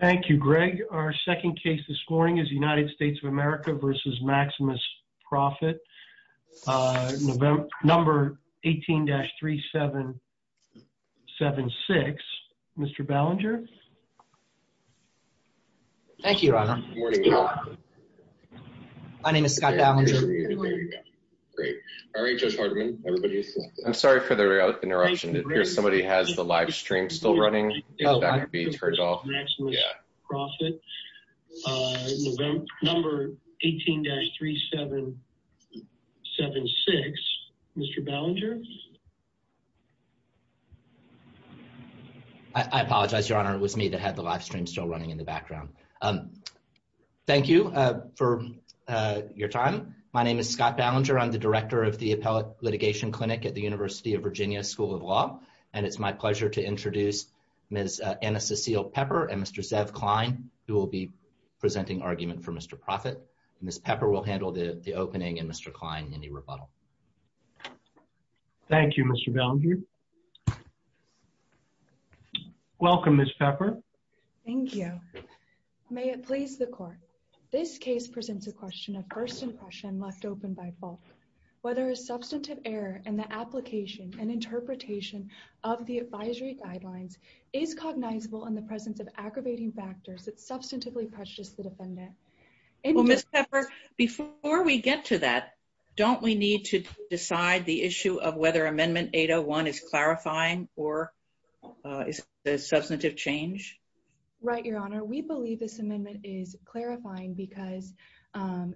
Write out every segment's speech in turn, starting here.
Thank you, Greg. Our second case this morning is United States of America v. Maximus Prophet, number 18-3776. Mr. Ballinger? Thank you, Your Honor. My name is Scott Ballinger. I'm sorry for the interruption. It appears somebody has the live stream still running. That could be me. I apologize, Your Honor. It was me that had the live stream still running in the background. Thank you for your time. My name is Scott Ballinger. I'm the director of the Appellate Litigation Clinic at the University of Virginia School of Law, and it's my pleasure to introduce Ms. Anna Cecile Pepper and Mr. Zev Klein, who will be presenting argument for Mr. Prophet. Ms. Pepper will handle the opening, and Mr. Klein, any rebuttal. Thank you, Mr. Ballinger. Welcome, Ms. Pepper. Thank you. May it please the Court. This case presents a question of first impression left open by fault. Whether a substantive error in the application and interpretation of the advisory guidelines is cognizable in the presence of aggravating factors that substantively prejudice the defendant. Well, Ms. Pepper, before we get to that, don't we need to decide the issue of whether Amendment 801 is clarifying or is it a substantive change? Right, Your Honor. We believe this amendment is clarifying because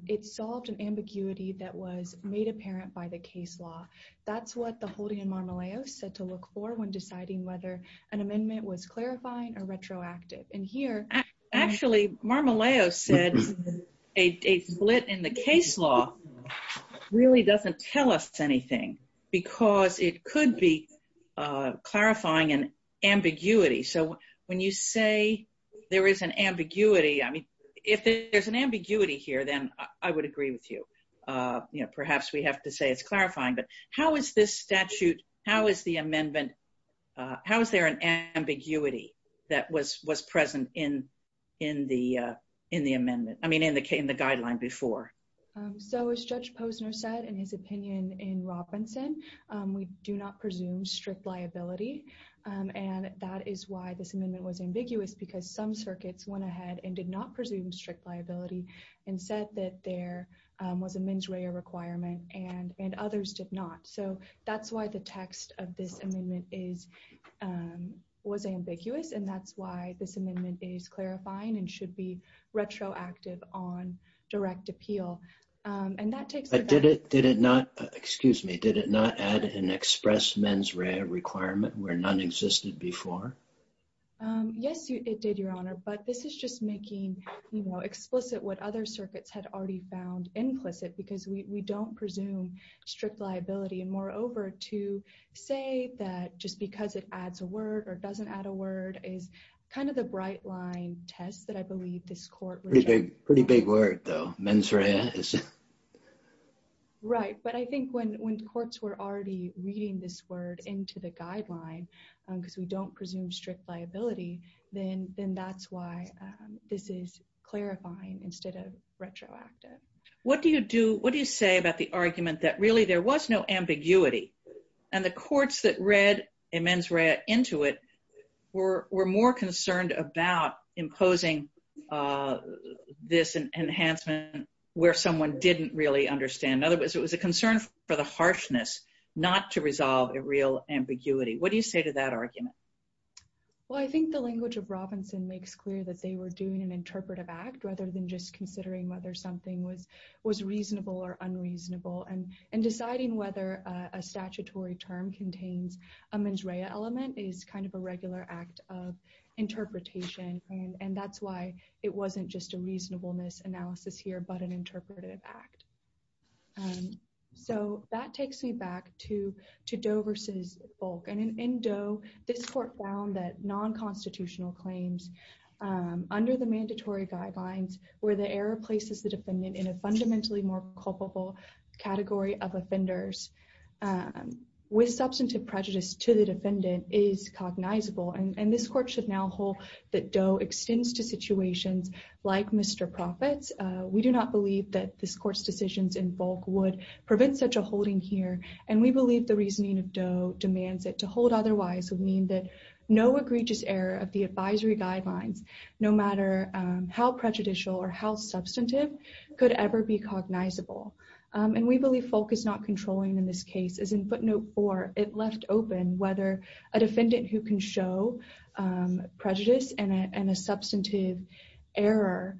it solved an ambiguity that was made apparent by the case law. That's what the holding in Marmolejos said to look for when deciding whether an amendment was clarifying or retroactive. And here... Actually, Marmolejos said a split in the case law really doesn't tell us anything because it could be clarifying an ambiguity. So when you say there is an ambiguity, I mean, if there's an ambiguity here, then I would agree with you. Perhaps we have to say it's clarifying, but how is this statute, how is the amendment, how is there an ambiguity that was present in the amendment, I mean, in the guideline before? So as Judge Posner said in his opinion in Robinson, we do not presume strict liability. And that is why this amendment was ambiguous because some said that there was a mens rea requirement and others did not. So that's why the text of this amendment was ambiguous. And that's why this amendment is clarifying and should be retroactive on direct appeal. And that takes... Did it not, excuse me, did it not add an express mens rea requirement where none existed before? Yes, it did, Your Honor. But this is just making explicit what other circuits had already found implicit, because we don't presume strict liability. And moreover, to say that just because it adds a word or doesn't add a word is kind of the bright line test that I believe this court... Pretty big word though, mens rea. Right. But I think when courts were already reading this word into the guideline, because we don't presume strict liability, then that's why this is clarifying instead of retroactive. What do you say about the argument that really there was no ambiguity and the courts that read a mens rea into it were more concerned about imposing this enhancement where someone didn't really understand. In other words, it was a concern for the harshness, not to resolve a real ambiguity. What do you say to that argument? Well, I think the language of Robinson makes clear that they were doing an interpretive act, rather than just considering whether something was reasonable or unreasonable. And deciding whether a statutory term contains a mens rea element is kind of a regular act of interpretation. And that's why it wasn't just a reasonableness analysis here, but an interpretive act. So that takes me back to Doe versus Volk. And in Doe, this court found that non-constitutional claims under the mandatory guidelines where the error places the defendant in a fundamentally more culpable category of offenders with substantive prejudice to the defendant is cognizable. And this court should now hold that Doe extends to situations like Mr. Proffitt's. We do not believe that this court's decisions in Volk would prevent such a holding here, and we believe the reasoning of Doe demands it to hold otherwise would mean that no egregious error of the advisory guidelines, no matter how prejudicial or how substantive, could ever be cognizable. And we believe Volk is not controlling in this case, as in footnote 4, it left open whether a defendant who can show prejudice and a substantive error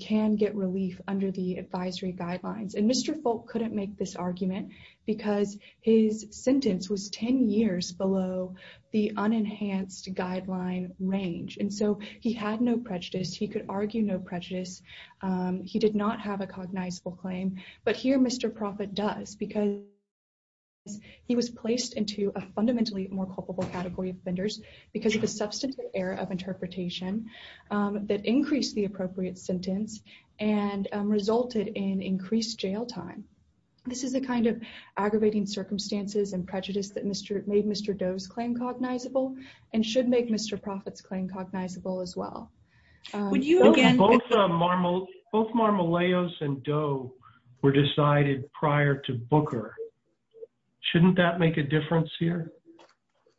can get relief under the advisory guidelines. And Mr. Volk couldn't make this argument because his sentence was 10 years below the unenhanced guideline range. And so he had no prejudice. He could argue no prejudice. He did not have a cognizable claim. But here Mr. Proffitt does because he was placed into a fundamentally more culpable category of offenders because of of interpretation that increased the appropriate sentence and resulted in increased jail time. This is a kind of aggravating circumstances and prejudice that made Mr. Doe's claim cognizable and should make Mr. Proffitt's claim cognizable as well. Both Marmolejos and Doe were decided prior to Booker. Shouldn't that make a difference here?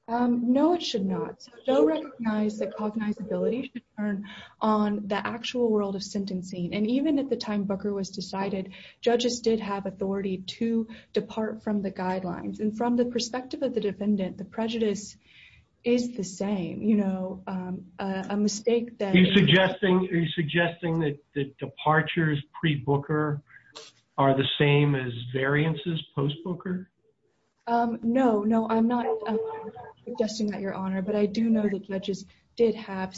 Um, no, it should not. So Doe recognized that cognizability should turn on the actual world of sentencing. And even at the time Booker was decided, judges did have authority to depart from the guidelines. And from the perspective of the defendant, the prejudice is the same, you know, a mistake that... Are you suggesting that departures pre-Booker are the same as variances post-Booker? Um, no, no, I'm not suggesting that, Your Honor. But I do know that judges did have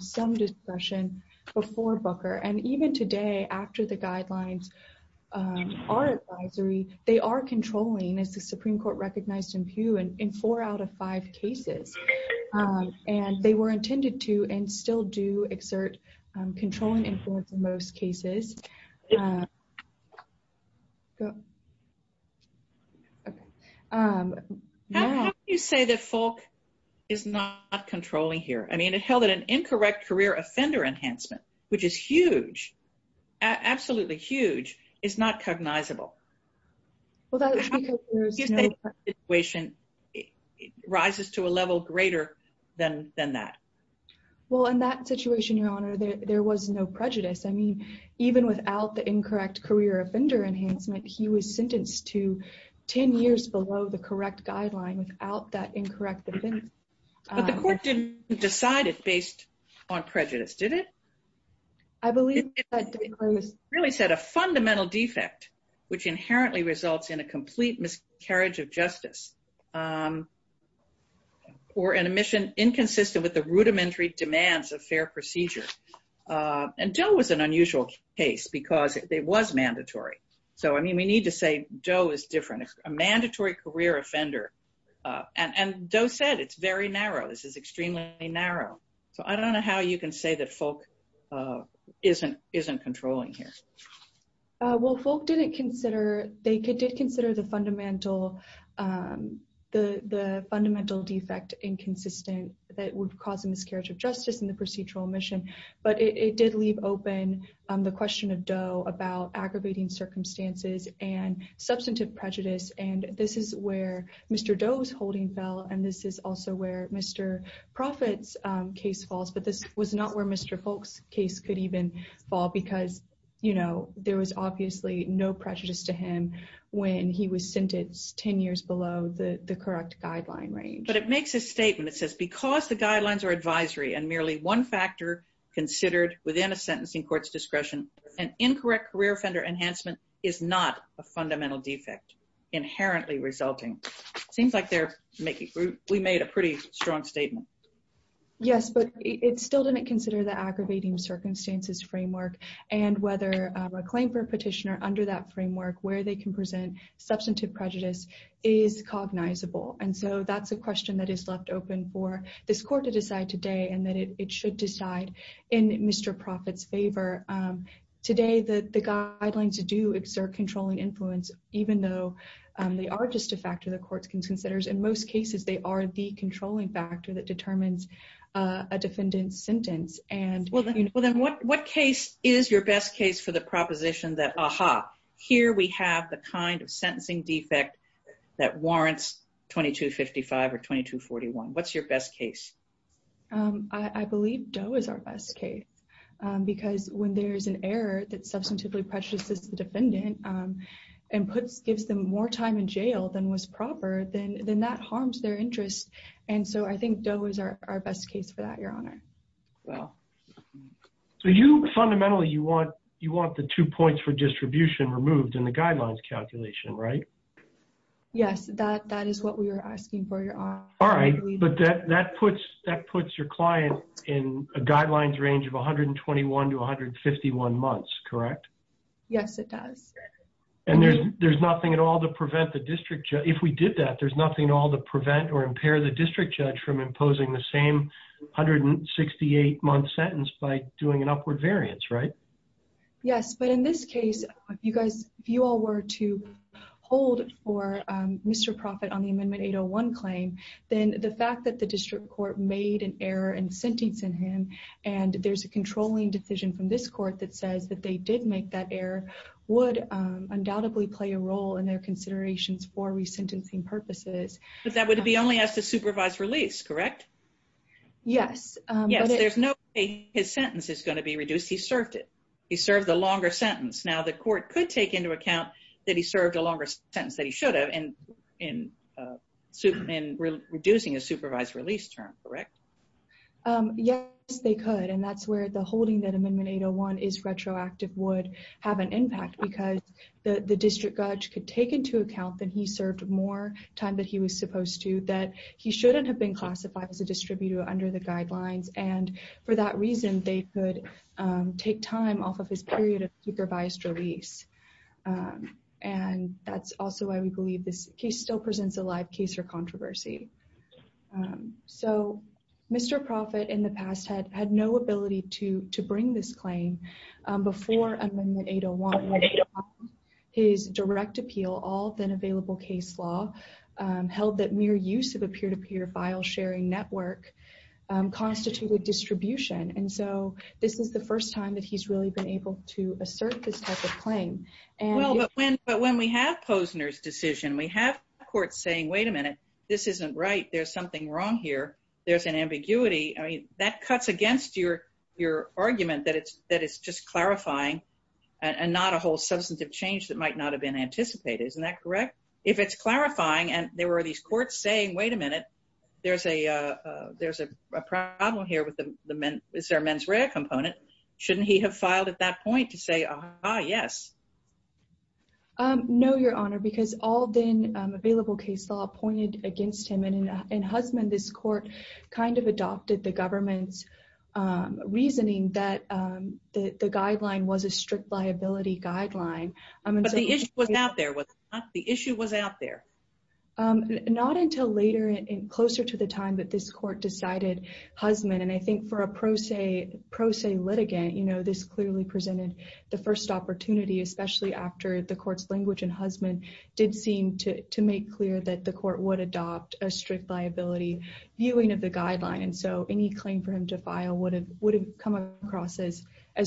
some discretion before Booker. And even today, after the guidelines are advisory, they are controlling, as the Supreme Court recognized in Pew, in four out of five cases. And they were intended to and still do exert controlling influence in most cases. How can you say that Falk is not controlling here? I mean, it held that an incorrect career offender enhancement, which is huge, absolutely huge, is not cognizable. Well, that's because there's no... How do you think the situation rises to a level greater than that? Well, in that situation, Your Honor, there was no prejudice. I mean, even without the incorrect career offender enhancement, he was sentenced to 10 years below the correct guideline without that incorrect... But the court didn't decide it based on prejudice, did it? I believe that... It really set a fundamental defect, which inherently results in a complete miscarriage of justice, or an admission inconsistent with the rudimentary demands of fair procedure. And Doe was an unusual case because it was mandatory. So, I mean, we need to say Doe is different. It's a mandatory career offender. And Doe said it's very narrow. This is extremely narrow. So I don't know how you can say that Falk isn't controlling here. Well, Falk didn't consider... They did consider the fundamental defect inconsistent that would cause a miscarriage of justice in the procedural admission. But it did leave open the question of Doe about aggravating circumstances and substantive prejudice. And this is where Mr. Doe's holding fell. And this is also where Mr. Profitt's case falls. But this was not where Mr. Falk's case could even fall because there was obviously no prejudice to him when he was sentenced 10 years below the correct guideline range. But it makes a statement. It says, because the guidelines are advisory and merely one factor considered within a sentencing court's discretion, an incorrect career offender enhancement is not a fundamental defect, inherently resulting. Seems like we made a pretty strong statement. Yes, but it still didn't consider the aggravating circumstances framework and whether a claim for a petitioner under that framework where they can present substantive prejudice is cognizable. And so that's a question that is left open for this court to decide today and that it should decide in Mr. Profitt's favor. Today, the guidelines do exert controlling influence, even though they are just a factor the court considers. In most cases, they are the controlling factor that determines a defendant's sentence. Well, then what case is your best case for the proposition that, aha, here we have the kind of sentencing defect that warrants 2255 or 2241? What's your best case? I believe Doe is our best case. Because when there's an error that substantively prejudices the defendant and gives them more time in jail than was proper, then that harms their interest. And so I think Doe is our best case for that, Your Honor. Well, so you fundamentally, you want the two points for distribution removed in the guidelines calculation, right? Yes, that is what we were asking for, Your Honor. All right, but that puts your client in a guidelines range of 121 to 151 months, correct? Yes, it does. And there's nothing at prevent or impair the district judge from imposing the same 168-month sentence by doing an upward variance, right? Yes, but in this case, if you all were to hold for Mr. Profitt on the Amendment 801 claim, then the fact that the district court made an error in sentencing him, and there's a controlling decision from this court that says that they did make that error, would undoubtedly play a role in their considerations for resentencing purposes. But that would be only as the supervised release, correct? Yes. Yes, there's no way his sentence is going to be reduced. He served it. He served the longer sentence. Now, the court could take into account that he served a longer sentence than he should have in reducing a supervised release term, correct? Yes, they could. And that's where the holding that Amendment 801 is retroactive would have an impact because the district judge could take into account that he served more time than he was supposed to, that he shouldn't have been classified as a distributor under the guidelines. And for that reason, they could take time off of his period of supervised release. And that's also why we believe this case still presents a live case for controversy. So, Mr. Profitt in the past had no ability to bring this claim before Amendment 801. His direct appeal, all then available case law, held that mere use of a peer-to-peer file sharing network constituted distribution. And so, this is the first time that he's really been able to assert this type of claim. Well, but when we have Posner's decision, we have courts saying, wait a minute, this isn't right. There's something wrong here. There's an ambiguity. I mean, that cuts against your argument that it's just clarifying and not a whole substantive change that might not have been anticipated. Isn't that correct? If it's clarifying and there were these courts saying, wait a minute, there's a problem here with the mens rea component, shouldn't he have filed at that point to say, ah, yes? No, Your Honor, because all then available case law pointed against him. And in Hussman, this court kind of adopted the government's reasoning that the guideline was a strict liability guideline. But the issue was out there, was it not? The issue was out there. Not until later and closer to the time that this court decided Hussman, and I think for a pro se litigant, this clearly presented the first opportunity, especially after the court's language in Hussman did seem to make clear that the court would adopt a strict liability viewing of the guideline. And so any claim for him to file would have come across as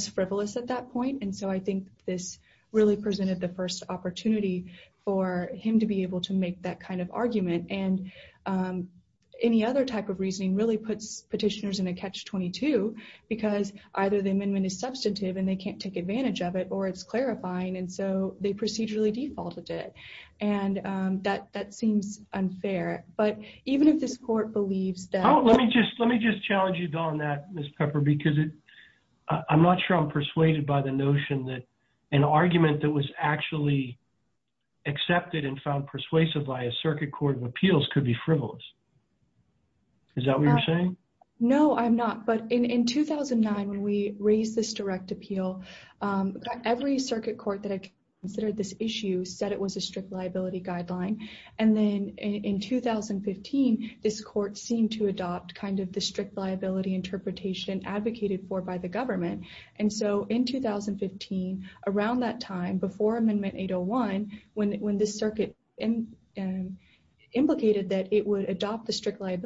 frivolous at that point. And so I think this really presented the first opportunity for him to be able to make that kind of argument. And any other type of reasoning really puts petitioners in a catch-22 because either the amendment is substantive and they can't take advantage of it, or it's clarifying. And so they procedurally defaulted it. And that seems unfair. But even if this court believes that... Let me just challenge you on that, Ms. Pepper, because I'm not sure I'm persuaded by the notion that an argument that was actually accepted and found persuasive by a circuit court of appeals could be frivolous. Is that what you're saying? No, I'm not. But in 2009, when we raised this direct appeal, every circuit court that had considered this issue said it was a strict liability guideline. And then in 2015, this court seemed to adopt kind of the strict liability interpretation advocated for by the government. And so in 2015, around that time, before Amendment 801, when this circuit implicated that it would adopt the strict then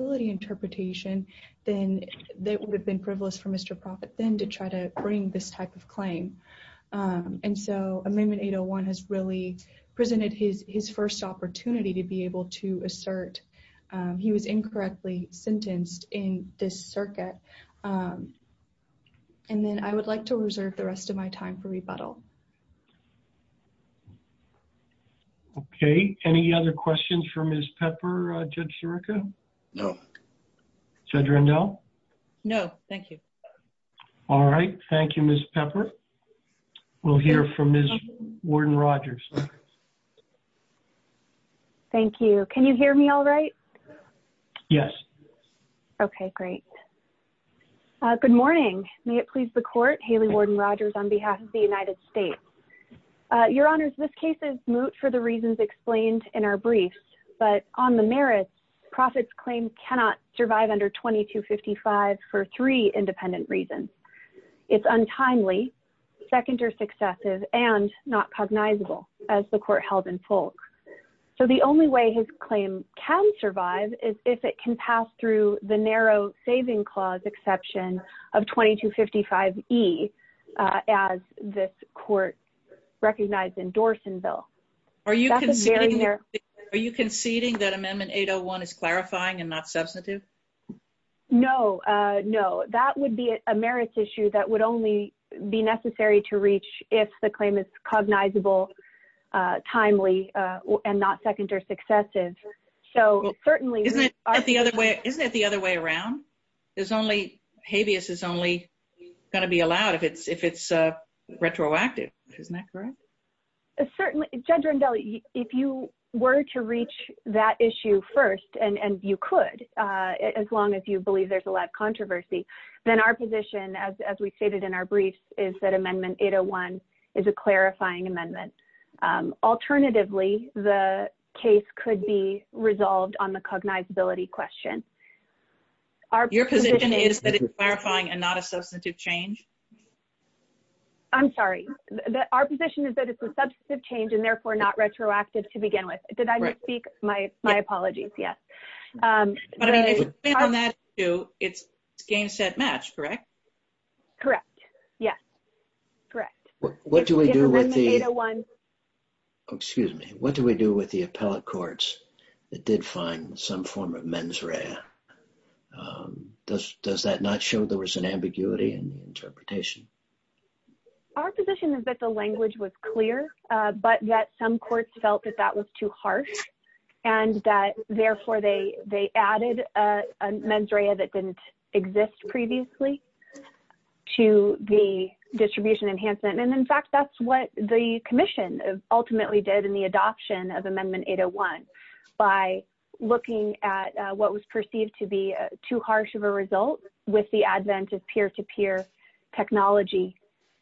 to try to bring this type of claim. And so Amendment 801 has really presented his first opportunity to be able to assert he was incorrectly sentenced in this circuit. And then I would like to reserve the rest of my time for rebuttal. Okay. Any other questions for Ms. Pepper, Judge Sirica? No. Judge Rendell? No, thank you. All right. Thank you, Ms. Pepper. We'll hear from Ms. Warden-Rogers. Thank you. Can you hear me all right? Yes. Okay, great. Good morning. May it please the Court, Haley Warden-Rogers on behalf of the United States. Your Honors, this case is moot for the reasons explained in our briefs, but on the merits, Proffitt's claim cannot survive under 2255 for three independent reasons. It's untimely, second or successive, and not cognizable, as the Court held in Folk. So the only way his claim can survive is if it can pass through the narrow saving clause exception of 2255E, as this Court recognized in Dorsonville. Are you conceding that Amendment 801 is clarifying and not substantive? No. No. That would be a merits issue that would only be necessary to reach if the claim is cognizable, timely, and not second or successive. So certainly— Isn't it the other way around? Habeas is only going to be allowed if it's retroactive, isn't that correct? Certainly. Judge Rendell, if you were to reach that issue first, and you could, as long as you believe there's a lot of controversy, then our position, as we stated in our briefs, is that Amendment 801 is a clarifying amendment. Alternatively, the case could be resolved on the cognizability question. Your position is that it's clarifying and not a substantive change? I'm sorry. Our position is that it's a substantive change and, therefore, not retroactive to begin with. Did I misspeak? My apologies. Yes. But I mean, if it's based on that issue, it's game, set, match, correct? Correct. Yes. Correct. What do we do with the— In Amendment 801— Excuse me. What do we do with the appellate courts that did find some form of mens rea? Yeah. Does that not show there was an ambiguity in the interpretation? Our position is that the language was clear, but that some courts felt that that was too harsh and that, therefore, they added a mens rea that didn't exist previously to the distribution enhancement. And, in fact, that's what the Commission ultimately did in the adoption of Amendment 801 by looking at what was perceived to be too harsh of a result with the advent of peer-to-peer technology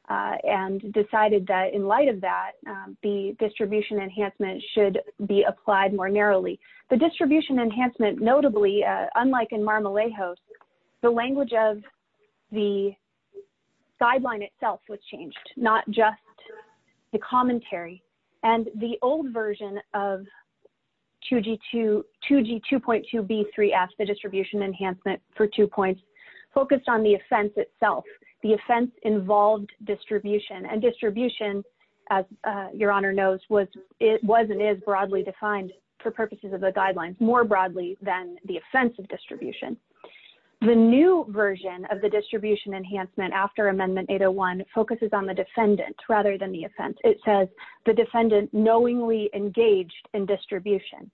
and decided that, in light of that, the distribution enhancement should be applied more narrowly. The distribution enhancement, notably, unlike in Mar-a-Lago, the language of the guideline itself was changed, not just the commentary. And the old version of 2G2.2B3F, the distribution enhancement for two points, focused on the offense itself. The offense involved distribution, and distribution, as Your Honor knows, was and is broadly defined for purposes of the guidelines, more broadly than the offense of distribution. The new version of the distribution enhancement after Amendment 801 focuses on the defendant rather than the offense. It says, the defendant knowingly engaged in distribution.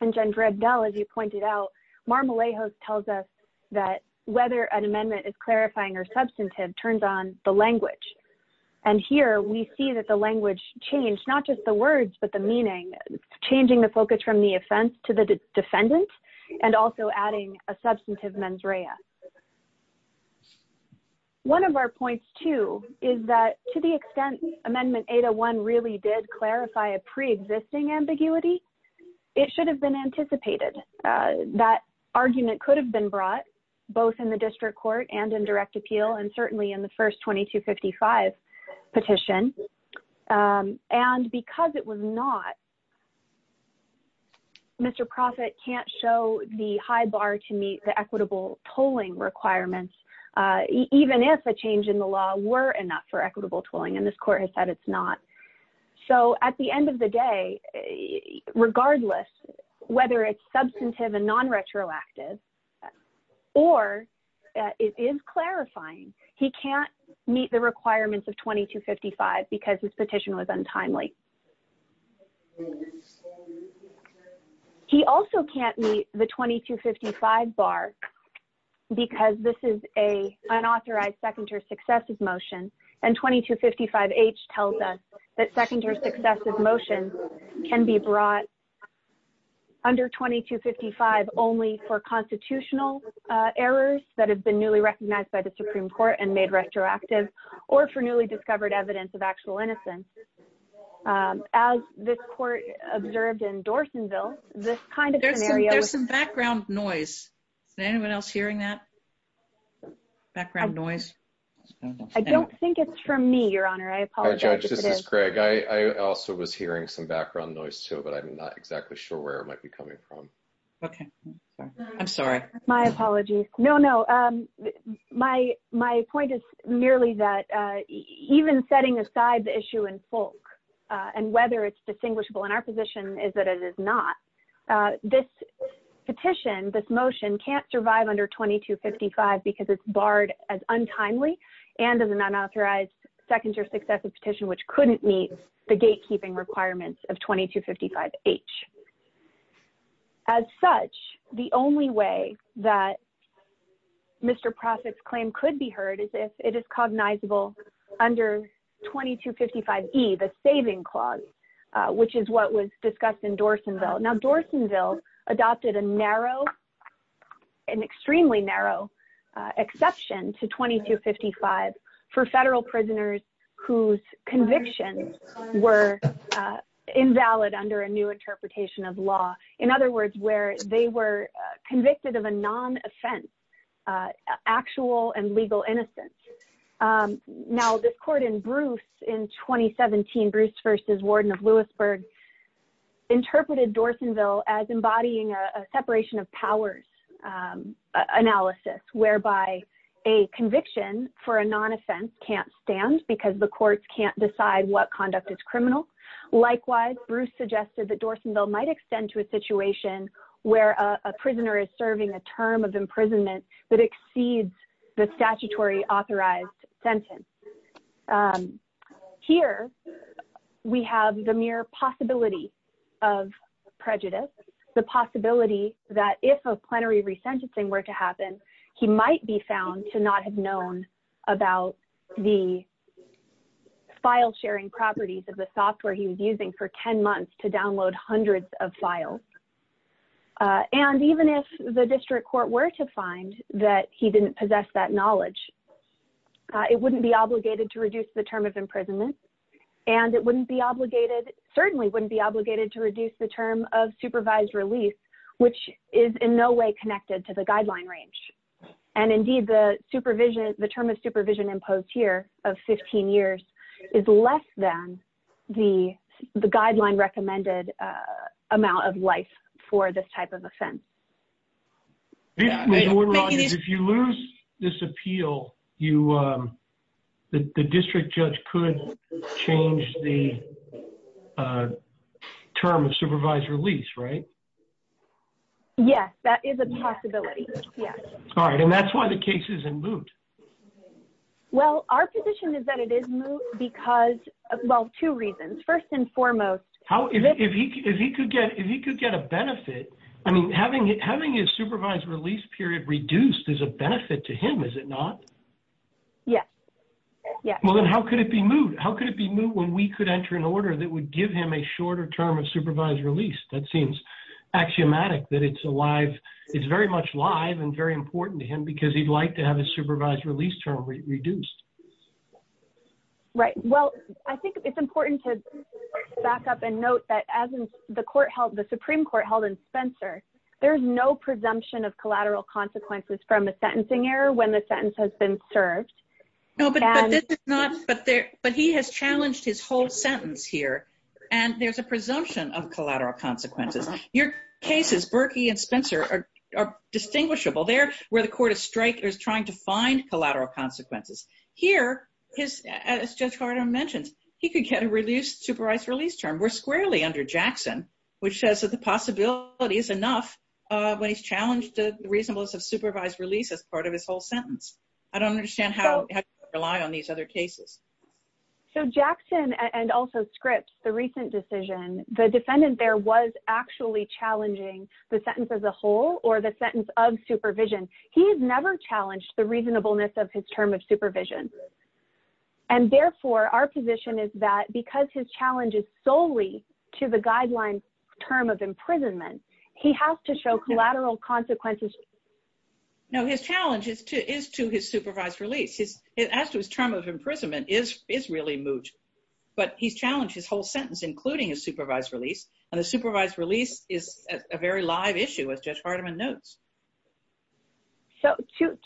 And, Jen Drebdel, as you pointed out, Mar-a-Lago tells us that whether an amendment is clarifying or substantive turns on the language. And here, we see that the language changed, not just the words, but the meaning, changing the focus from the offense to the language. One of our points, too, is that to the extent Amendment 801 really did clarify a preexisting ambiguity, it should have been anticipated. That argument could have been brought, both in the district court and in direct appeal, and certainly in the first 2255 petition. And because it was not, Mr. Profitt can't show the high bar to meet the equitable tolling requirements, even if a change in the law were enough for equitable tolling, and this court has said it's not. So, at the end of the day, regardless whether it's substantive and non-retroactive, or it is clarifying, he can't meet the requirements of 2255 because his petition was untimely. He also can't meet the 2255 bar because this is an unauthorized second or successive motion, and 2255H tells us that second or successive motions can be brought under 2255 only for constitutional errors that have been newly recognized by the Supreme Court and made retroactive, or for newly discovered evidence of actual innocence. As this court observed in Dorsonville, this kind of scenario... There's some background noise. Is anyone else hearing that background noise? I don't think it's from me, Your Honor. I apologize. Judge, this is Greg. I also was hearing some background noise, too, but I'm not exactly sure where it might be coming from. Okay. I'm sorry. My apologies. No, no. My point is merely that even setting aside the issue in folk and whether it's distinguishable in our position is that it is not. This petition, this motion, can't survive under 2255 because it's barred as untimely and as an unauthorized second or successive petition which couldn't meet the gatekeeping requirements of 2255H. As such, the only way that Mr. Profitt's claim could be heard is if it is cognizable under 2255E, the saving clause, which is what was discussed in Dorsonville. Now, Dorsonville adopted an extremely narrow exception to 2255 for federal prisoners whose convictions were invalid under a new interpretation of law. In other words, where they were convicted of a non-offense, actual and legal innocence. Now, this court in Bruce in 2017, Bruce v. Warden of Lewisburg, interpreted Dorsonville as embodying a separation of powers analysis whereby a conviction for a non-offense can't stand because the courts can't decide what conduct is criminal. Likewise, Bruce suggested that Dorsonville might extend to a situation where a prisoner is serving a term of imprisonment that exceeds the statutory authorized sentence. Here, we have the mere possibility of prejudice, the possibility that if a plenary resentencing were to happen, he might be found to not have known about the file sharing properties of the software he was using for 10 months to download hundreds of files. And even if the district court were to find that he didn't possess that knowledge, it wouldn't be obligated to reduce the term of imprisonment and it wouldn't be obligated, certainly wouldn't be obligated to reduce the term of supervised release, which is in no way connected to the guideline range. And indeed, the supervision, the term of supervision imposed here of 15 years is less than the guideline recommended amount of life for this type of offense. If you lose this appeal, the district judge could change the term of supervised release, right? Yes, that is a possibility. Yes. All right. And that's why the case is in moot. Well, our position is that it is moot because, well, two reasons. First and foremost... If he could get a benefit, I mean, having his supervised release period reduced is a benefit to him, is it not? Yes. Yes. Well, then how could it be moot? How could it be moot when we could enter an order that would give him a shorter term of supervised release? That seems axiomatic that it's very much live and very important to him because he'd like to have his supervised release term reduced. Right. Well, I think it's important to back up and note that as the Supreme Court held in Spencer, there's no presumption of collateral consequences from a sentencing error when the sentence has been served. No, but this is not... But he has challenged his whole sentence here. And there's a presumption of collateral consequences. Your cases, Berkey and Spencer, are distinguishable. They're where the court is trying to find collateral consequences. Here, as Judge Gardner mentioned, he could get a supervised release term. We're squarely under Jackson, which says that the possibility is enough when he's challenged the reasonableness of supervised release as part of his whole sentence. I don't understand how to rely on these other cases. So, Jackson and also Scripps, the recent decision, the defendant there was actually challenging the sentence as a whole or the sentence of supervision. He has never challenged the reasonableness of his term of supervision. And therefore, our position is that because his challenge is solely to the guideline term of imprisonment, he has to show collateral consequences. No, his challenge is to his supervised release. As to his term of imprisonment is really moot. But he's challenged his whole sentence, including his supervised release. And the supervised release is a very live issue, as Judge Hardiman notes. So,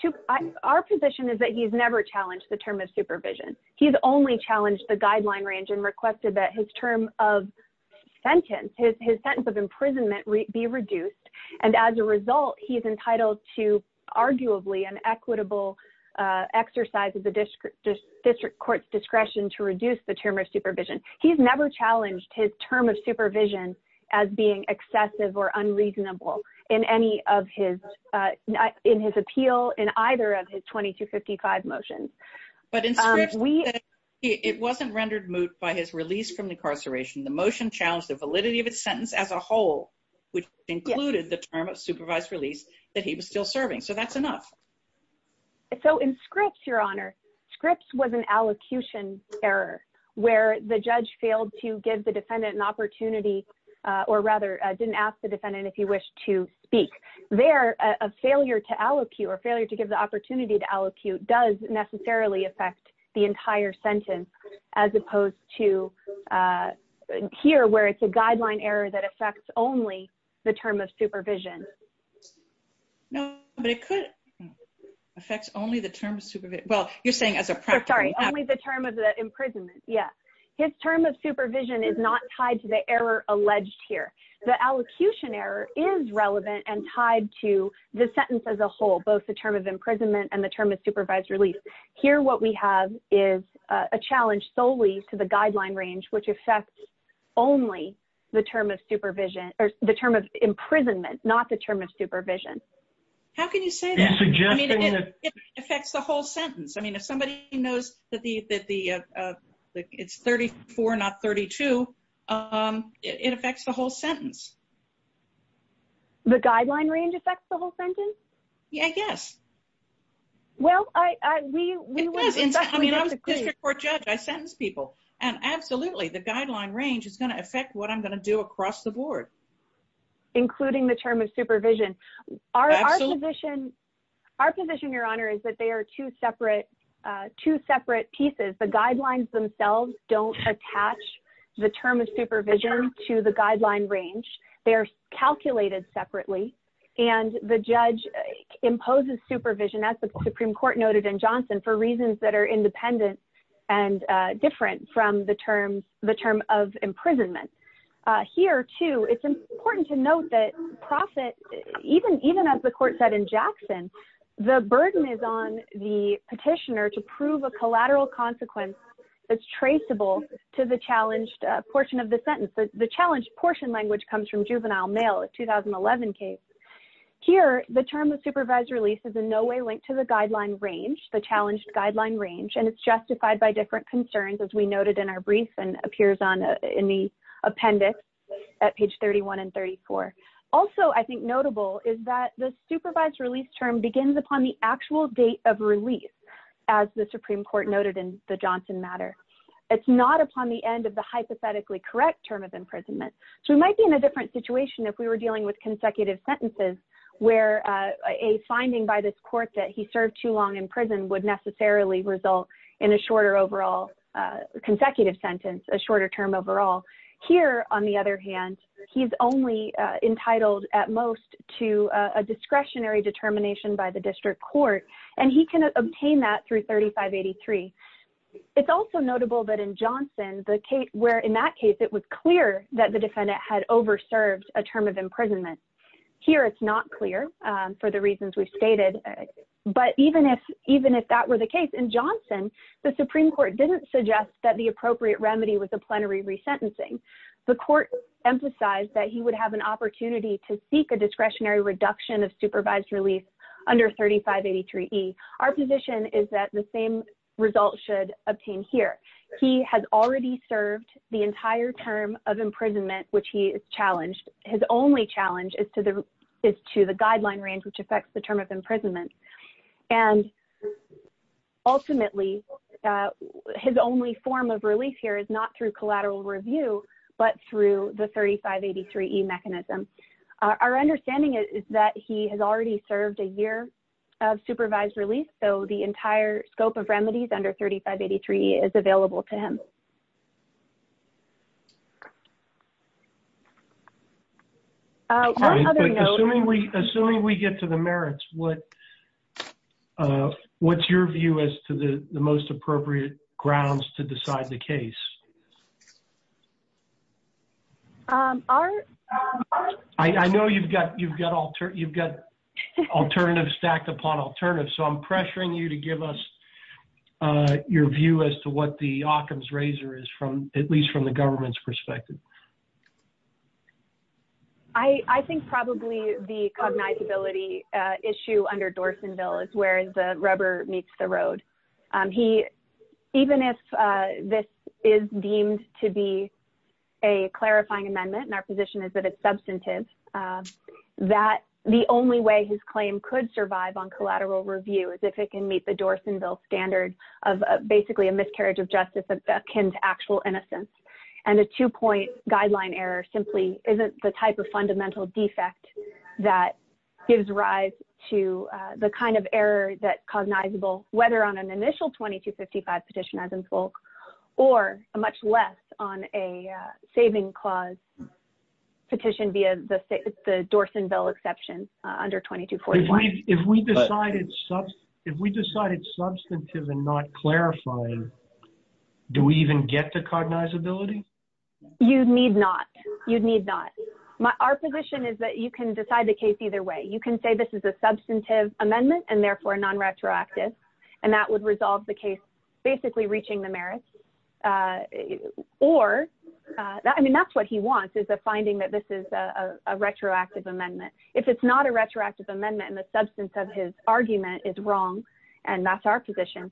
our position is that he's never challenged the term of supervision. He's only challenged the guideline range and requested that his term of sentence, his sentence of imprisonment, be reduced. And as a result, he's entitled to arguably an equitable exercise of the district court's discretion to reduce the term of supervision. He's never challenged his term of supervision as being excessive or unreasonable in his appeal in either of his 2255 motions. But in Scripps, it wasn't rendered moot by his release from incarceration. The motion challenged the validity of its sentence as a whole, which included the term of supervised release that he was still serving. So, that's enough. So, in Scripps, Your Honor, Scripps was an allocution error where the judge failed to give the defendant an opportunity, or rather, didn't ask the defendant if he wished to speak. There, a failure to allocute or failure to give opportunity to allocute does necessarily affect the entire sentence, as opposed to here, where it's a guideline error that affects only the term of supervision. No, but it could affect only the term of supervision. Well, you're saying as a practice. Sorry, only the term of the imprisonment. Yeah. His term of supervision is not tied to the error alleged here. The allocution error is relevant and tied to the sentence as a whole, both the term of imprisonment and the term of supervised release. Here, what we have is a challenge solely to the guideline range, which affects only the term of supervision, or the term of imprisonment, not the term of supervision. How can you say that? I mean, it affects the whole sentence. I mean, if somebody knows that it's 34, not 32, it affects the whole sentence. The guideline range affects the whole sentence? Yeah, I guess. Well, I mean, I was a district court judge. I sentenced people. And absolutely, the guideline range is going to affect what I'm going to do across the board. Including the term of supervision. Our position, Your Honor, is that they are two separate pieces. The guidelines themselves don't attach the term of supervision to the guideline range. They are calculated separately. And the judge imposes supervision, as the Supreme Court noted in Johnson, for reasons that are independent and different from the term of imprisonment. Here, too, it's important to note that even as the court said in Jackson, the burden is on the petitioner to prove a collateral consequence that's traceable to the challenged portion of juvenile mail, a 2011 case. Here, the term of supervised release is in no way linked to the guideline range, the challenged guideline range. And it's justified by different concerns, as we noted in our brief and appears in the appendix at page 31 and 34. Also, I think notable is that the supervised release term begins upon the actual date of release, as the Supreme Court noted in the Johnson matter. It's not upon the end of the hypothetically correct term of supervision if we were dealing with consecutive sentences, where a finding by this court that he served too long in prison would necessarily result in a shorter overall consecutive sentence, a shorter term overall. Here, on the other hand, he's only entitled at most to a discretionary determination by the district court. And he can obtain that through 3583. It's also notable that Johnson, where in that case, it was clear that the defendant had overserved a term of imprisonment. Here, it's not clear for the reasons we've stated. But even if that were the case in Johnson, the Supreme Court didn't suggest that the appropriate remedy was a plenary resentencing. The court emphasized that he would have an opportunity to seek a discretionary reduction of supervised release under 3583E. Our position is that the same result should obtain here. He has already served the entire term of imprisonment, which he has challenged. His only challenge is to the guideline range, which affects the term of imprisonment. And ultimately, his only form of release here is not through collateral review, but through the 3583E mechanism. Our understanding is that he has already served a year of supervised release, so the entire scope of remedies under 3583E is available to him. Assuming we get to the merits, what's your view as to the most appropriate grounds to decide the case? I know you've got alternatives stacked upon alternatives, so I'm pressuring you to give us your view as to what the Occam's razor is, at least from the government's perspective. I think probably the cognizability issue under Dorsonville is where the rubber meets the road. Even if this is deemed to be a clarifying amendment, and our position is that it's substantive, the only way his claim could survive on collateral review is if it can meet the Dorsonville standard of basically a miscarriage of justice akin to actual innocence. And a two-point guideline error simply isn't the type of fundamental defect that gives rise to the error that's cognizable, whether on an initial 2255 petition as in full, or much less on a saving clause petition via the Dorsonville exception under 2245. If we decided substantive and not clarifying, do we even get the cognizability? You need not. Our position is that you can decide the case either way. You can say this is a non-retroactive amendment, and that would resolve the case basically reaching the merits. Or, I mean, that's what he wants is a finding that this is a retroactive amendment. If it's not a retroactive amendment and the substance of his argument is wrong, and that's our position,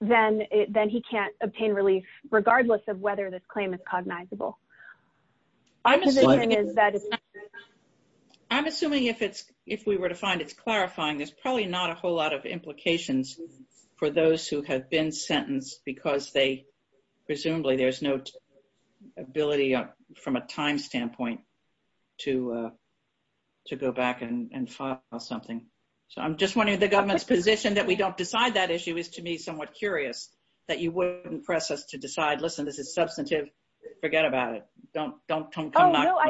then he can't obtain relief regardless of whether this claim is cognizable. I'm assuming if we were to find it's clarifying, there's probably not a whole lot of implications for those who have been sentenced because they presumably there's no ability from a time standpoint to go back and file something. So I'm just wondering the government's position that we don't decide that issue is to me somewhat curious that you wouldn't press us to decide, listen, this is substantive. Forget about it. Don't come back. Oh, no.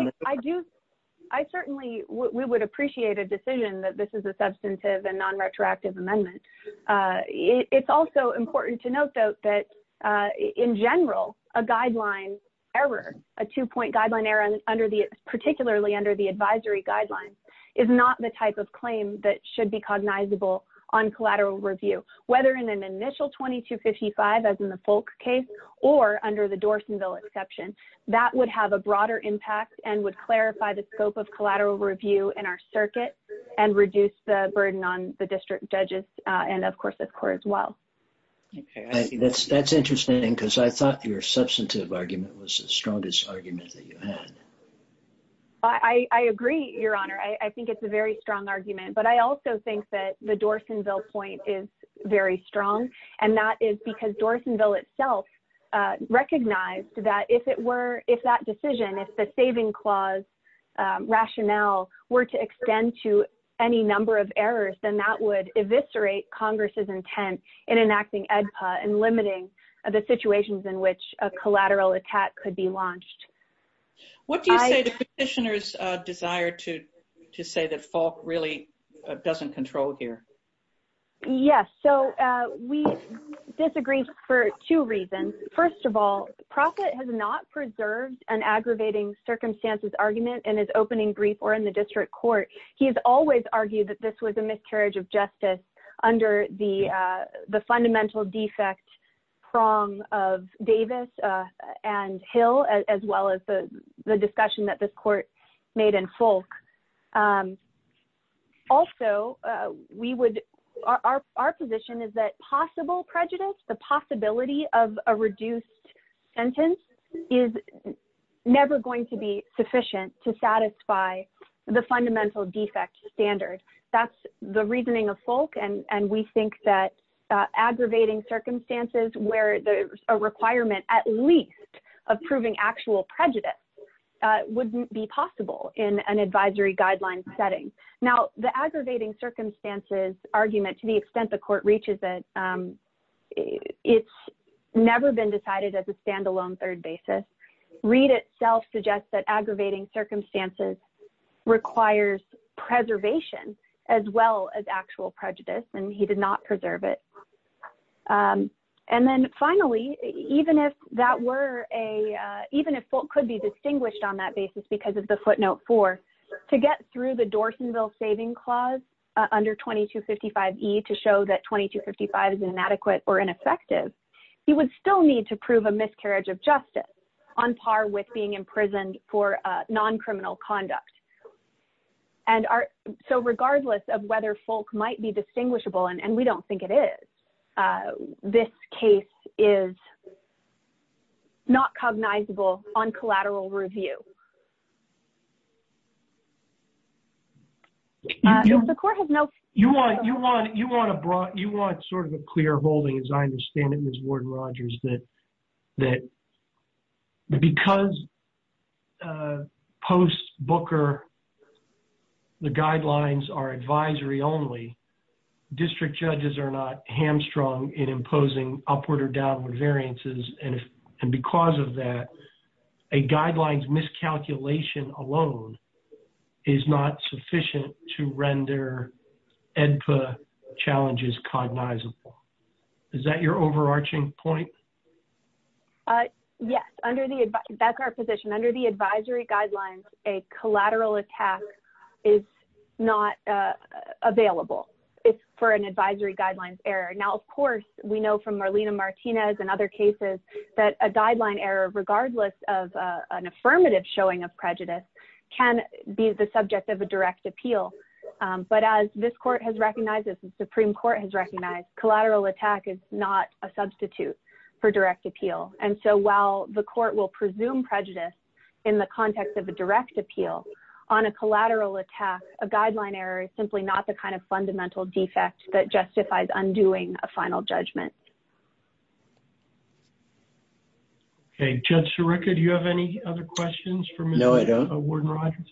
I certainly would appreciate a decision that this is a substantive and non-retroactive amendment. It's also important to note, though, that in general, a guideline error, a two-point guideline error particularly under the advisory guidelines is not the type of claim that should be cognizable on collateral review, whether in an initial 2255, as in the Folk case, or under the Dorsonville exception. That would have a broader impact and would clarify the scope of collateral review in our circuit and reduce the burden on the district judges and, of course, the court as well. Okay. That's interesting because I thought your substantive argument was the strongest argument that you had. I agree, Your Honor. I think it's a very strong argument, but I also think that the Dorsonville point is very strong, and that is because Dorsonville itself recognized that if that decision, if the saving clause rationale were to extend to any number of errors, then that would eviscerate Congress's intent in enacting AEDPA and limiting the situations in which a collateral attack could be launched. What do you say to Petitioner's desire to say that Folk really doesn't control here? Yes. So, we disagree for two reasons. First of all, Proffitt has not preserved an aggravating circumstances argument in his opening brief or in the district court. He has always argued that this was a miscarriage of justice under the fundamental defect prong of Davis and Hill, as well as the discussion that this court made in Folk. Also, our position is that possible prejudice, the possibility of a reduced sentence is never going to be sufficient to satisfy the fundamental defect standard. That's the reasoning of Folk, and we think that aggravating circumstances where there's a requirement at least of proving actual prejudice wouldn't be possible in an advisory guideline setting. Now, the aggravating circumstances argument, to the extent the court reaches it, it's never been decided as a standalone third basis. Reed itself suggests that aggravating circumstances requires preservation as well as actual prejudice, and he did not preserve it. And then finally, even if Folk could be distinguished on that basis because of the footnote four, to get through the Dorsonville saving clause under 2255e to show that 2255 is inadequate or ineffective, he would still need to prove a miscarriage of justice on par with being imprisoned for non-criminal conduct. And so regardless of whether Folk might be distinguishable, and we don't think it is, this case is not cognizable on collateral review. You want sort of a clear holding, as I understand it, Ms. Ward-Rogers, that because post-Booker, the guidelines are advisory only, district judges are not hamstrung in imposing upward or downward variances, and because of that, a guideline's miscalculation alone is not sufficient to render EDPA challenges cognizable. Is that your overarching point? Yes, that's our position. Under the advisory guidelines, a collateral attack is not available for an advisory guidelines error. Now, of course, we know from Marlena Martinez and other cases that a guideline error, regardless of an affirmative showing of prejudice, can be the subject of a direct appeal. But as this Supreme Court has recognized, collateral attack is not a substitute for direct appeal. And so while the court will presume prejudice in the context of a direct appeal, on a collateral attack, a guideline error is simply not the kind of fundamental defect that justifies undoing a final judgment. Okay. Judge Sirica, do you have any other questions for Ms. Ward-Rogers? No, I don't.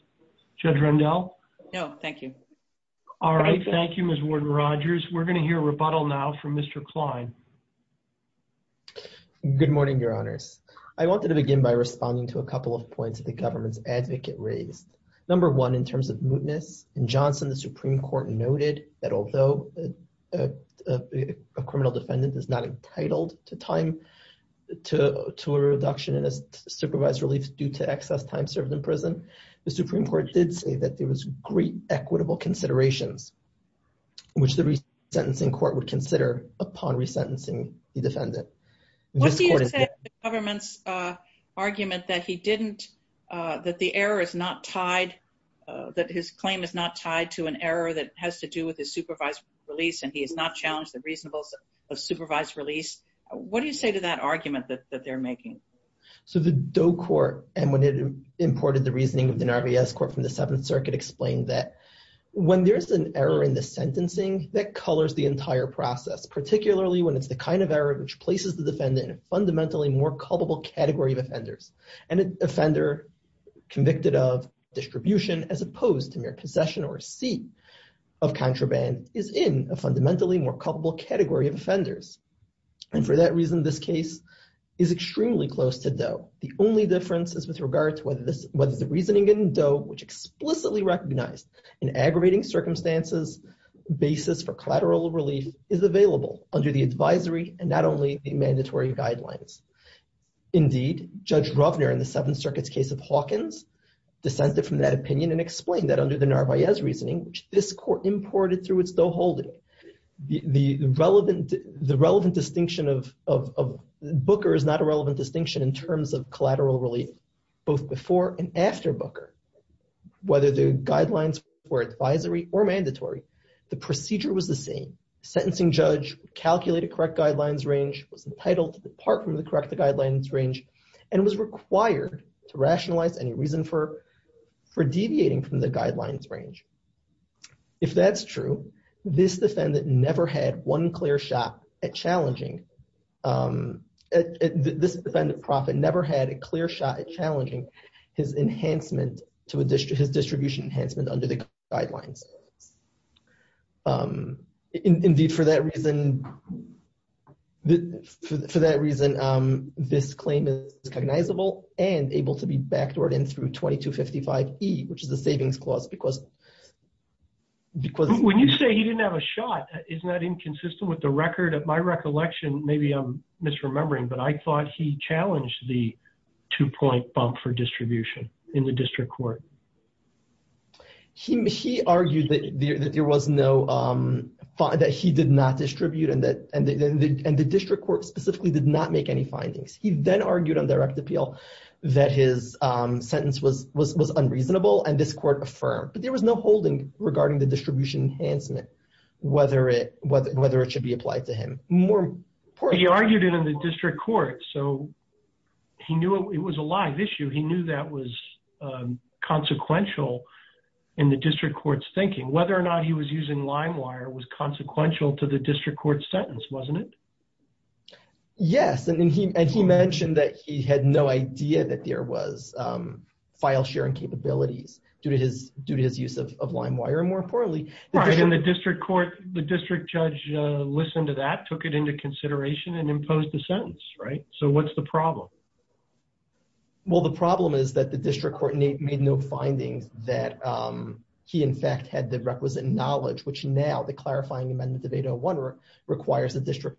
Judge Rendell? No, thank you. All right. Thank you, Ms. Ward-Rogers. We're going to hear a rebuttal now from Mr. Klein. Good morning, Your Honors. I wanted to begin by responding to a couple of points that the government's advocate raised. Number one, in terms of mootness, in Johnson, the Supreme Court noted that although a criminal defendant is not entitled to a reduction in his supervised relief due to excess time served in prison, the Supreme Court did say that there was great equitable considerations, which the resentencing court would consider upon resentencing the defendant. What do you say to the government's argument that he didn't, that the error is not tied, that his claim is not tied to an error that has to do with his supervised release, and he has not challenged the reasonableness of supervised release? What do you say to that argument that they're making? So the Doe Court, and when it imported the reasoning of the Narvaez Court from the Seventh Circuit, explained that when there's an error in the sentencing, that colors the entire process, particularly when it's the kind of error which places the defendant in a fundamentally more culpable category of offenders. An offender convicted of distribution as opposed to mere possession or receipt of contraband is in a fundamentally more culpable category of offenders. And for that reason, this case is extremely close to Doe. The only difference is with regard to whether the reasoning in Doe, which explicitly recognized in aggravating circumstances, basis for collateral relief is available under the advisory and not only the mandatory guidelines. Indeed, Judge Rovner in the Seventh Circuit's case of Hawkins, dissented from that opinion and explained that under the Narvaez reasoning, which this court imported through its Doe holding, the relevant distinction of Booker is not a relevant distinction in terms of collateral relief, both before and after Booker. Whether the guidelines were advisory or mandatory, the procedure was the same. Sentencing judge calculated correct guidelines range, was entitled to depart from the correct guidelines range, and was required to rationalize any reason for deviating from the guidelines range. If that's true, this defendant never had one clear shot at challenging. This defendant, Proffitt, never had a clear shot at challenging his enhancement to his distribution enhancement under the guidelines. Indeed, for that reason, this claim is cognizable and able to be backdoored in through 2255E, which is the savings clause. When you say he didn't have a shot, isn't that inconsistent with the record of my recollection? Maybe I'm misremembering, but I thought he challenged the two-point bump for distribution in the district court. He argued that he did not distribute and the district court specifically did not make any findings. He then argued on direct appeal that his sentence was unreasonable and this court affirmed, but there was no holding regarding the distribution enhancement, whether it should be applied to him. He argued it in the district court, so he knew it was a live issue. He knew that was consequential in the district court's thinking. Whether or not he was using Limewire was consequential to the district court sentence, wasn't it? Yes, and he mentioned that he had no idea that there was file-sharing capabilities due to his use of Limewire, and more importantly, the district court, the district judge listened to that, took it into consideration and imposed the sentence, right? So what's the problem? Well, the problem is that the district court made no findings that he in fact had the requisite knowledge, which now the clarifying amendment of 801 requires the district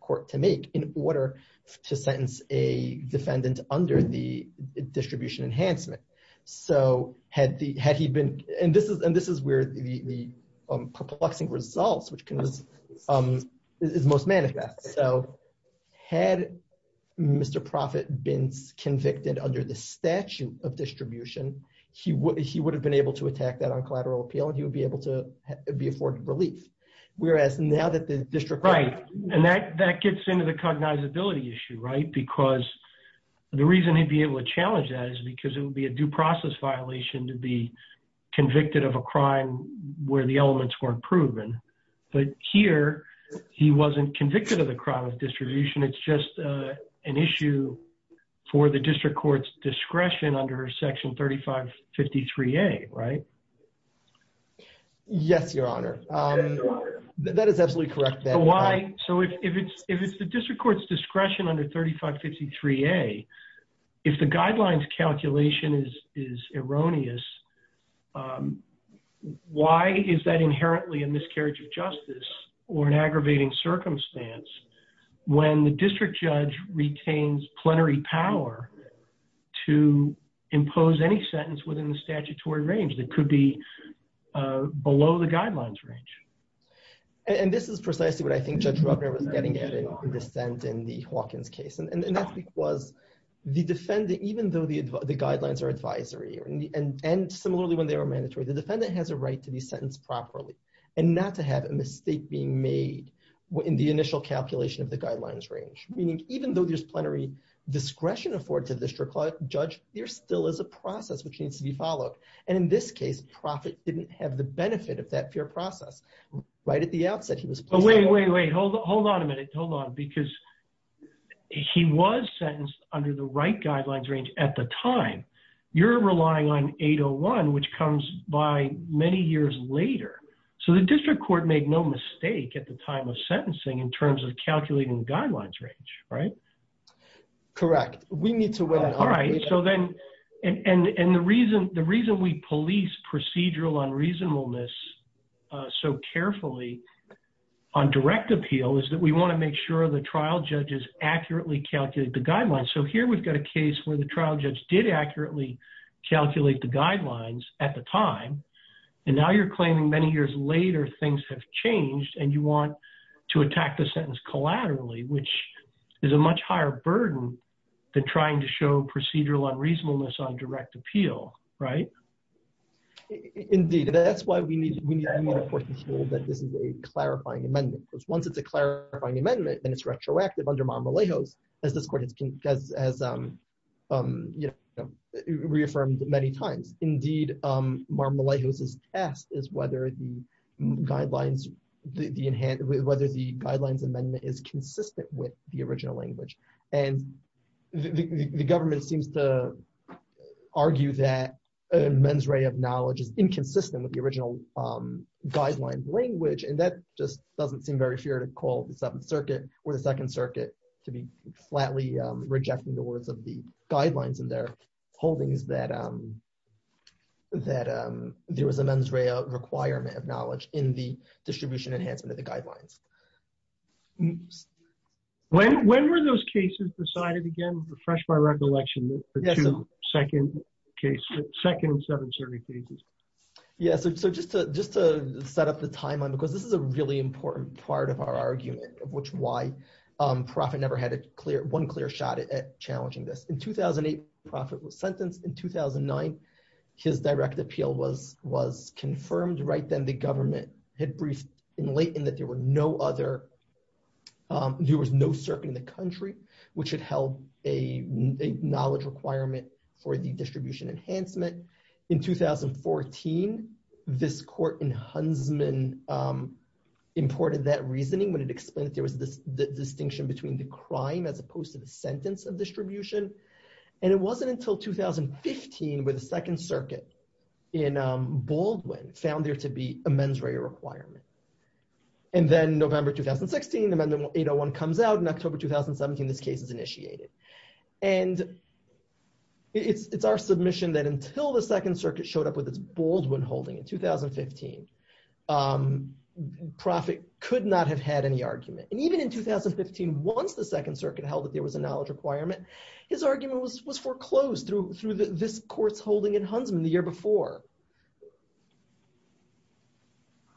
court to make in order to sentence a defendant under the distribution enhancement. And this is where the perplexing results is most manifest. So had Mr. Proffitt been convicted under the statute of distribution, he would have been able to attack that on collateral appeal and he would be able to be afforded relief. Whereas now that the district court- Right, and that gets into the cognizability issue, right? Because the reason he'd be able to challenge that is because it would be a due process violation to be convicted of a crime where the elements weren't proven. But here, he wasn't convicted of the crime of distribution, it's just an issue for the district court's discretion under section 3553A, right? Yes, your honor. That is absolutely correct. So if it's the district court's discretion under 3553A, if the guidelines calculation is erroneous, why is that inherently a miscarriage of justice or an aggravating circumstance when the district judge retains plenary power to impose any sentence within the statutory range that could be below the guidelines range? And this is precisely what I think Judge Ruggner was getting at in dissent in the Hawkins case. And that's because the defendant, even though the guidelines are advisory and similarly when they are mandatory, the defendant has a right to be sentenced properly and not to have a mistake being made in the initial calculation of the guidelines range. Meaning, even though there's plenary discretion afforded to the district judge, there still is a process which needs to be followed. And in this case, Proffitt didn't have the benefit of that fair process. Right at the outset, he was- Wait, wait, wait. Hold on a minute. Hold on. Because he was sentenced under the right guidelines range at the time. You're relying on 801, which comes by many years later. So the district court made no mistake at the time of sentencing in terms of calculating the guidelines range, right? Correct. We need to- All right. And the reason we police procedural unreasonableness so carefully on direct appeal is that we want to make sure the trial judges accurately calculate the guidelines. So here we've got a case where the trial judge did accurately calculate the guidelines at the time. And now you're claiming many years later, things have changed and you want to attack the sentence collaterally, which is a much higher burden than trying to show procedural unreasonableness on direct appeal. Right? Indeed. That's why we need to reinforce this rule that this is a clarifying amendment. Because once it's a clarifying amendment and it's reaffirmed many times. Indeed, Mar-a-Melejos' test is whether the guidelines amendment is consistent with the original language. And the government seems to argue that a mens rea of knowledge is inconsistent with the original guideline language. And that just doesn't seem very fair to call the Seventh Circuit or the Second Circuit to be flatly rejecting the words of the guidelines in their holdings that there was a mens rea requirement of knowledge in the distribution enhancement of the guidelines. When were those cases decided again? Refresh my recollection. The two second case, second and Seventh Circuit cases. Yeah. So just to set up the timeline, because this is a really important part of our argument, of which why Profitt never had one clear shot at challenging this. In 2008, Profitt was sentenced. In 2009, his direct appeal was confirmed right then the government had briefed in latent that there were no other, there was no circuit in the country, which had held a knowledge requirement for the distribution enhancement. In 2014, this court in Huntsman imported that reasoning when it explained that there was this distinction between the crime as opposed to the sentence of distribution. And it wasn't until 2015 where the Second Circuit in Baldwin found there to be a mens rea requirement. And then November, 2016, Amendment 801 comes out in October, 2017, this case is initiated. And it's our submission that until the Second Circuit showed up with its Baldwin holding in 2015, Profitt could not have had any argument. And even in 2015, once the Second Circuit held that there was a knowledge requirement, his argument was foreclosed through this court's holding in Huntsman the year before.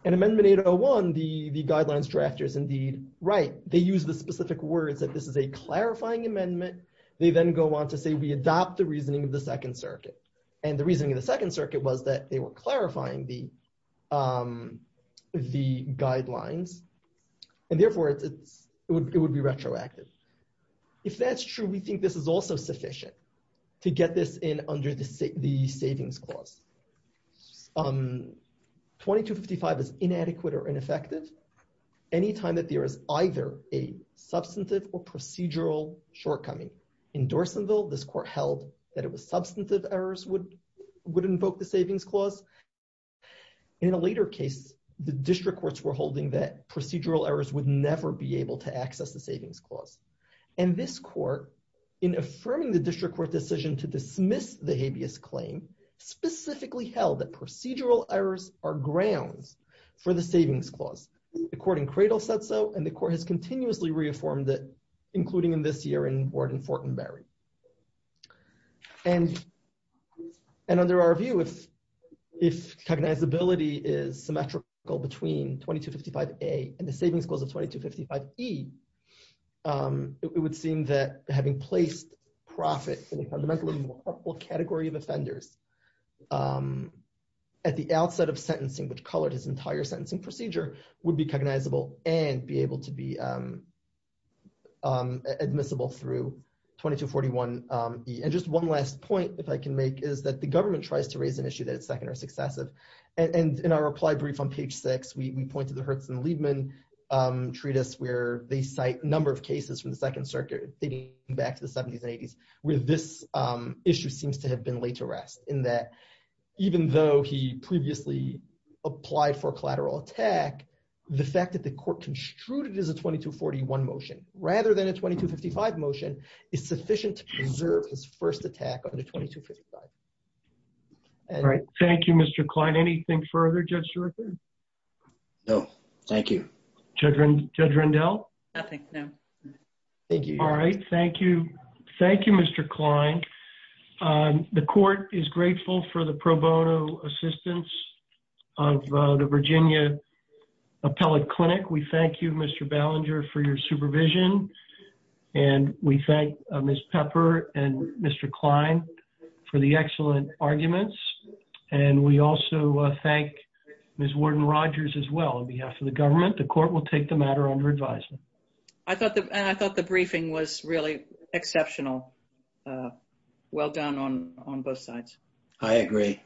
And Amendment 801, the guidelines drafters indeed, right, they use the specific words that this is a clarifying amendment, they then go on to say, we adopt the reasoning of the Second Circuit. And the reasoning of the Second Circuit was that they were clarifying the guidelines. And therefore, it would be retroactive. If that's true, we think this is also sufficient to get this in under the savings clause. 2255 is inadequate or ineffective anytime that there is either a substantive or procedural shortcoming. In Dorsonville, this court held that it was substantive errors would invoke the savings clause. In a later case, the district courts were holding that procedural errors would never be able to access the savings clause. And this court, in affirming the district court decision to dismiss the habeas claim, specifically held that procedural errors are grounds for the savings clause. The court in Cradle said so, and the court has continuously reaffirmed that, including in this year in Warden Fortenberry. And under our view, if cognizability is symmetrical between 2255A and the savings clause of 2255E, it would seem that having placed profit in a category of offenders at the outset of sentencing, which colored his entire sentencing procedure, would be cognizable and be able to be admissible through 2241E. And just one last point, if I can make, is that the government tries to raise an issue that is second or successive. And in our reply brief on page six, we point to the Hertz and Liebman treatise where they cite number of cases from the Second Circuit dating back to the 70s and 80s, where this issue seems to have been laid to rest. In that, even though he previously applied for a collateral attack, the fact that the court construed it as a 2241 motion, rather than a 2255 motion, is sufficient to preserve his first attack under 2255. All right, thank you, Mr. Klein. Anything further, Judge Schroeder? No, thank you. Judge Rendell? Nothing, no. Thank you. All right, thank you. Thank you, Mr. Klein. The court is grateful for the pro bono assistance of the Virginia Appellate Clinic. We thank you, Mr. Ballinger, for your supervision. And we thank Ms. Pepper and Mr. Klein for the excellent arguments. And we also thank Ms. Warden-Rogers as well on behalf of the government. The court will take the matter under advisement. And I thought the briefing was really exceptional. Well done on both sides. I agree.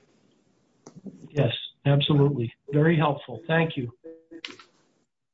Yes, absolutely. Very helpful. Thank you.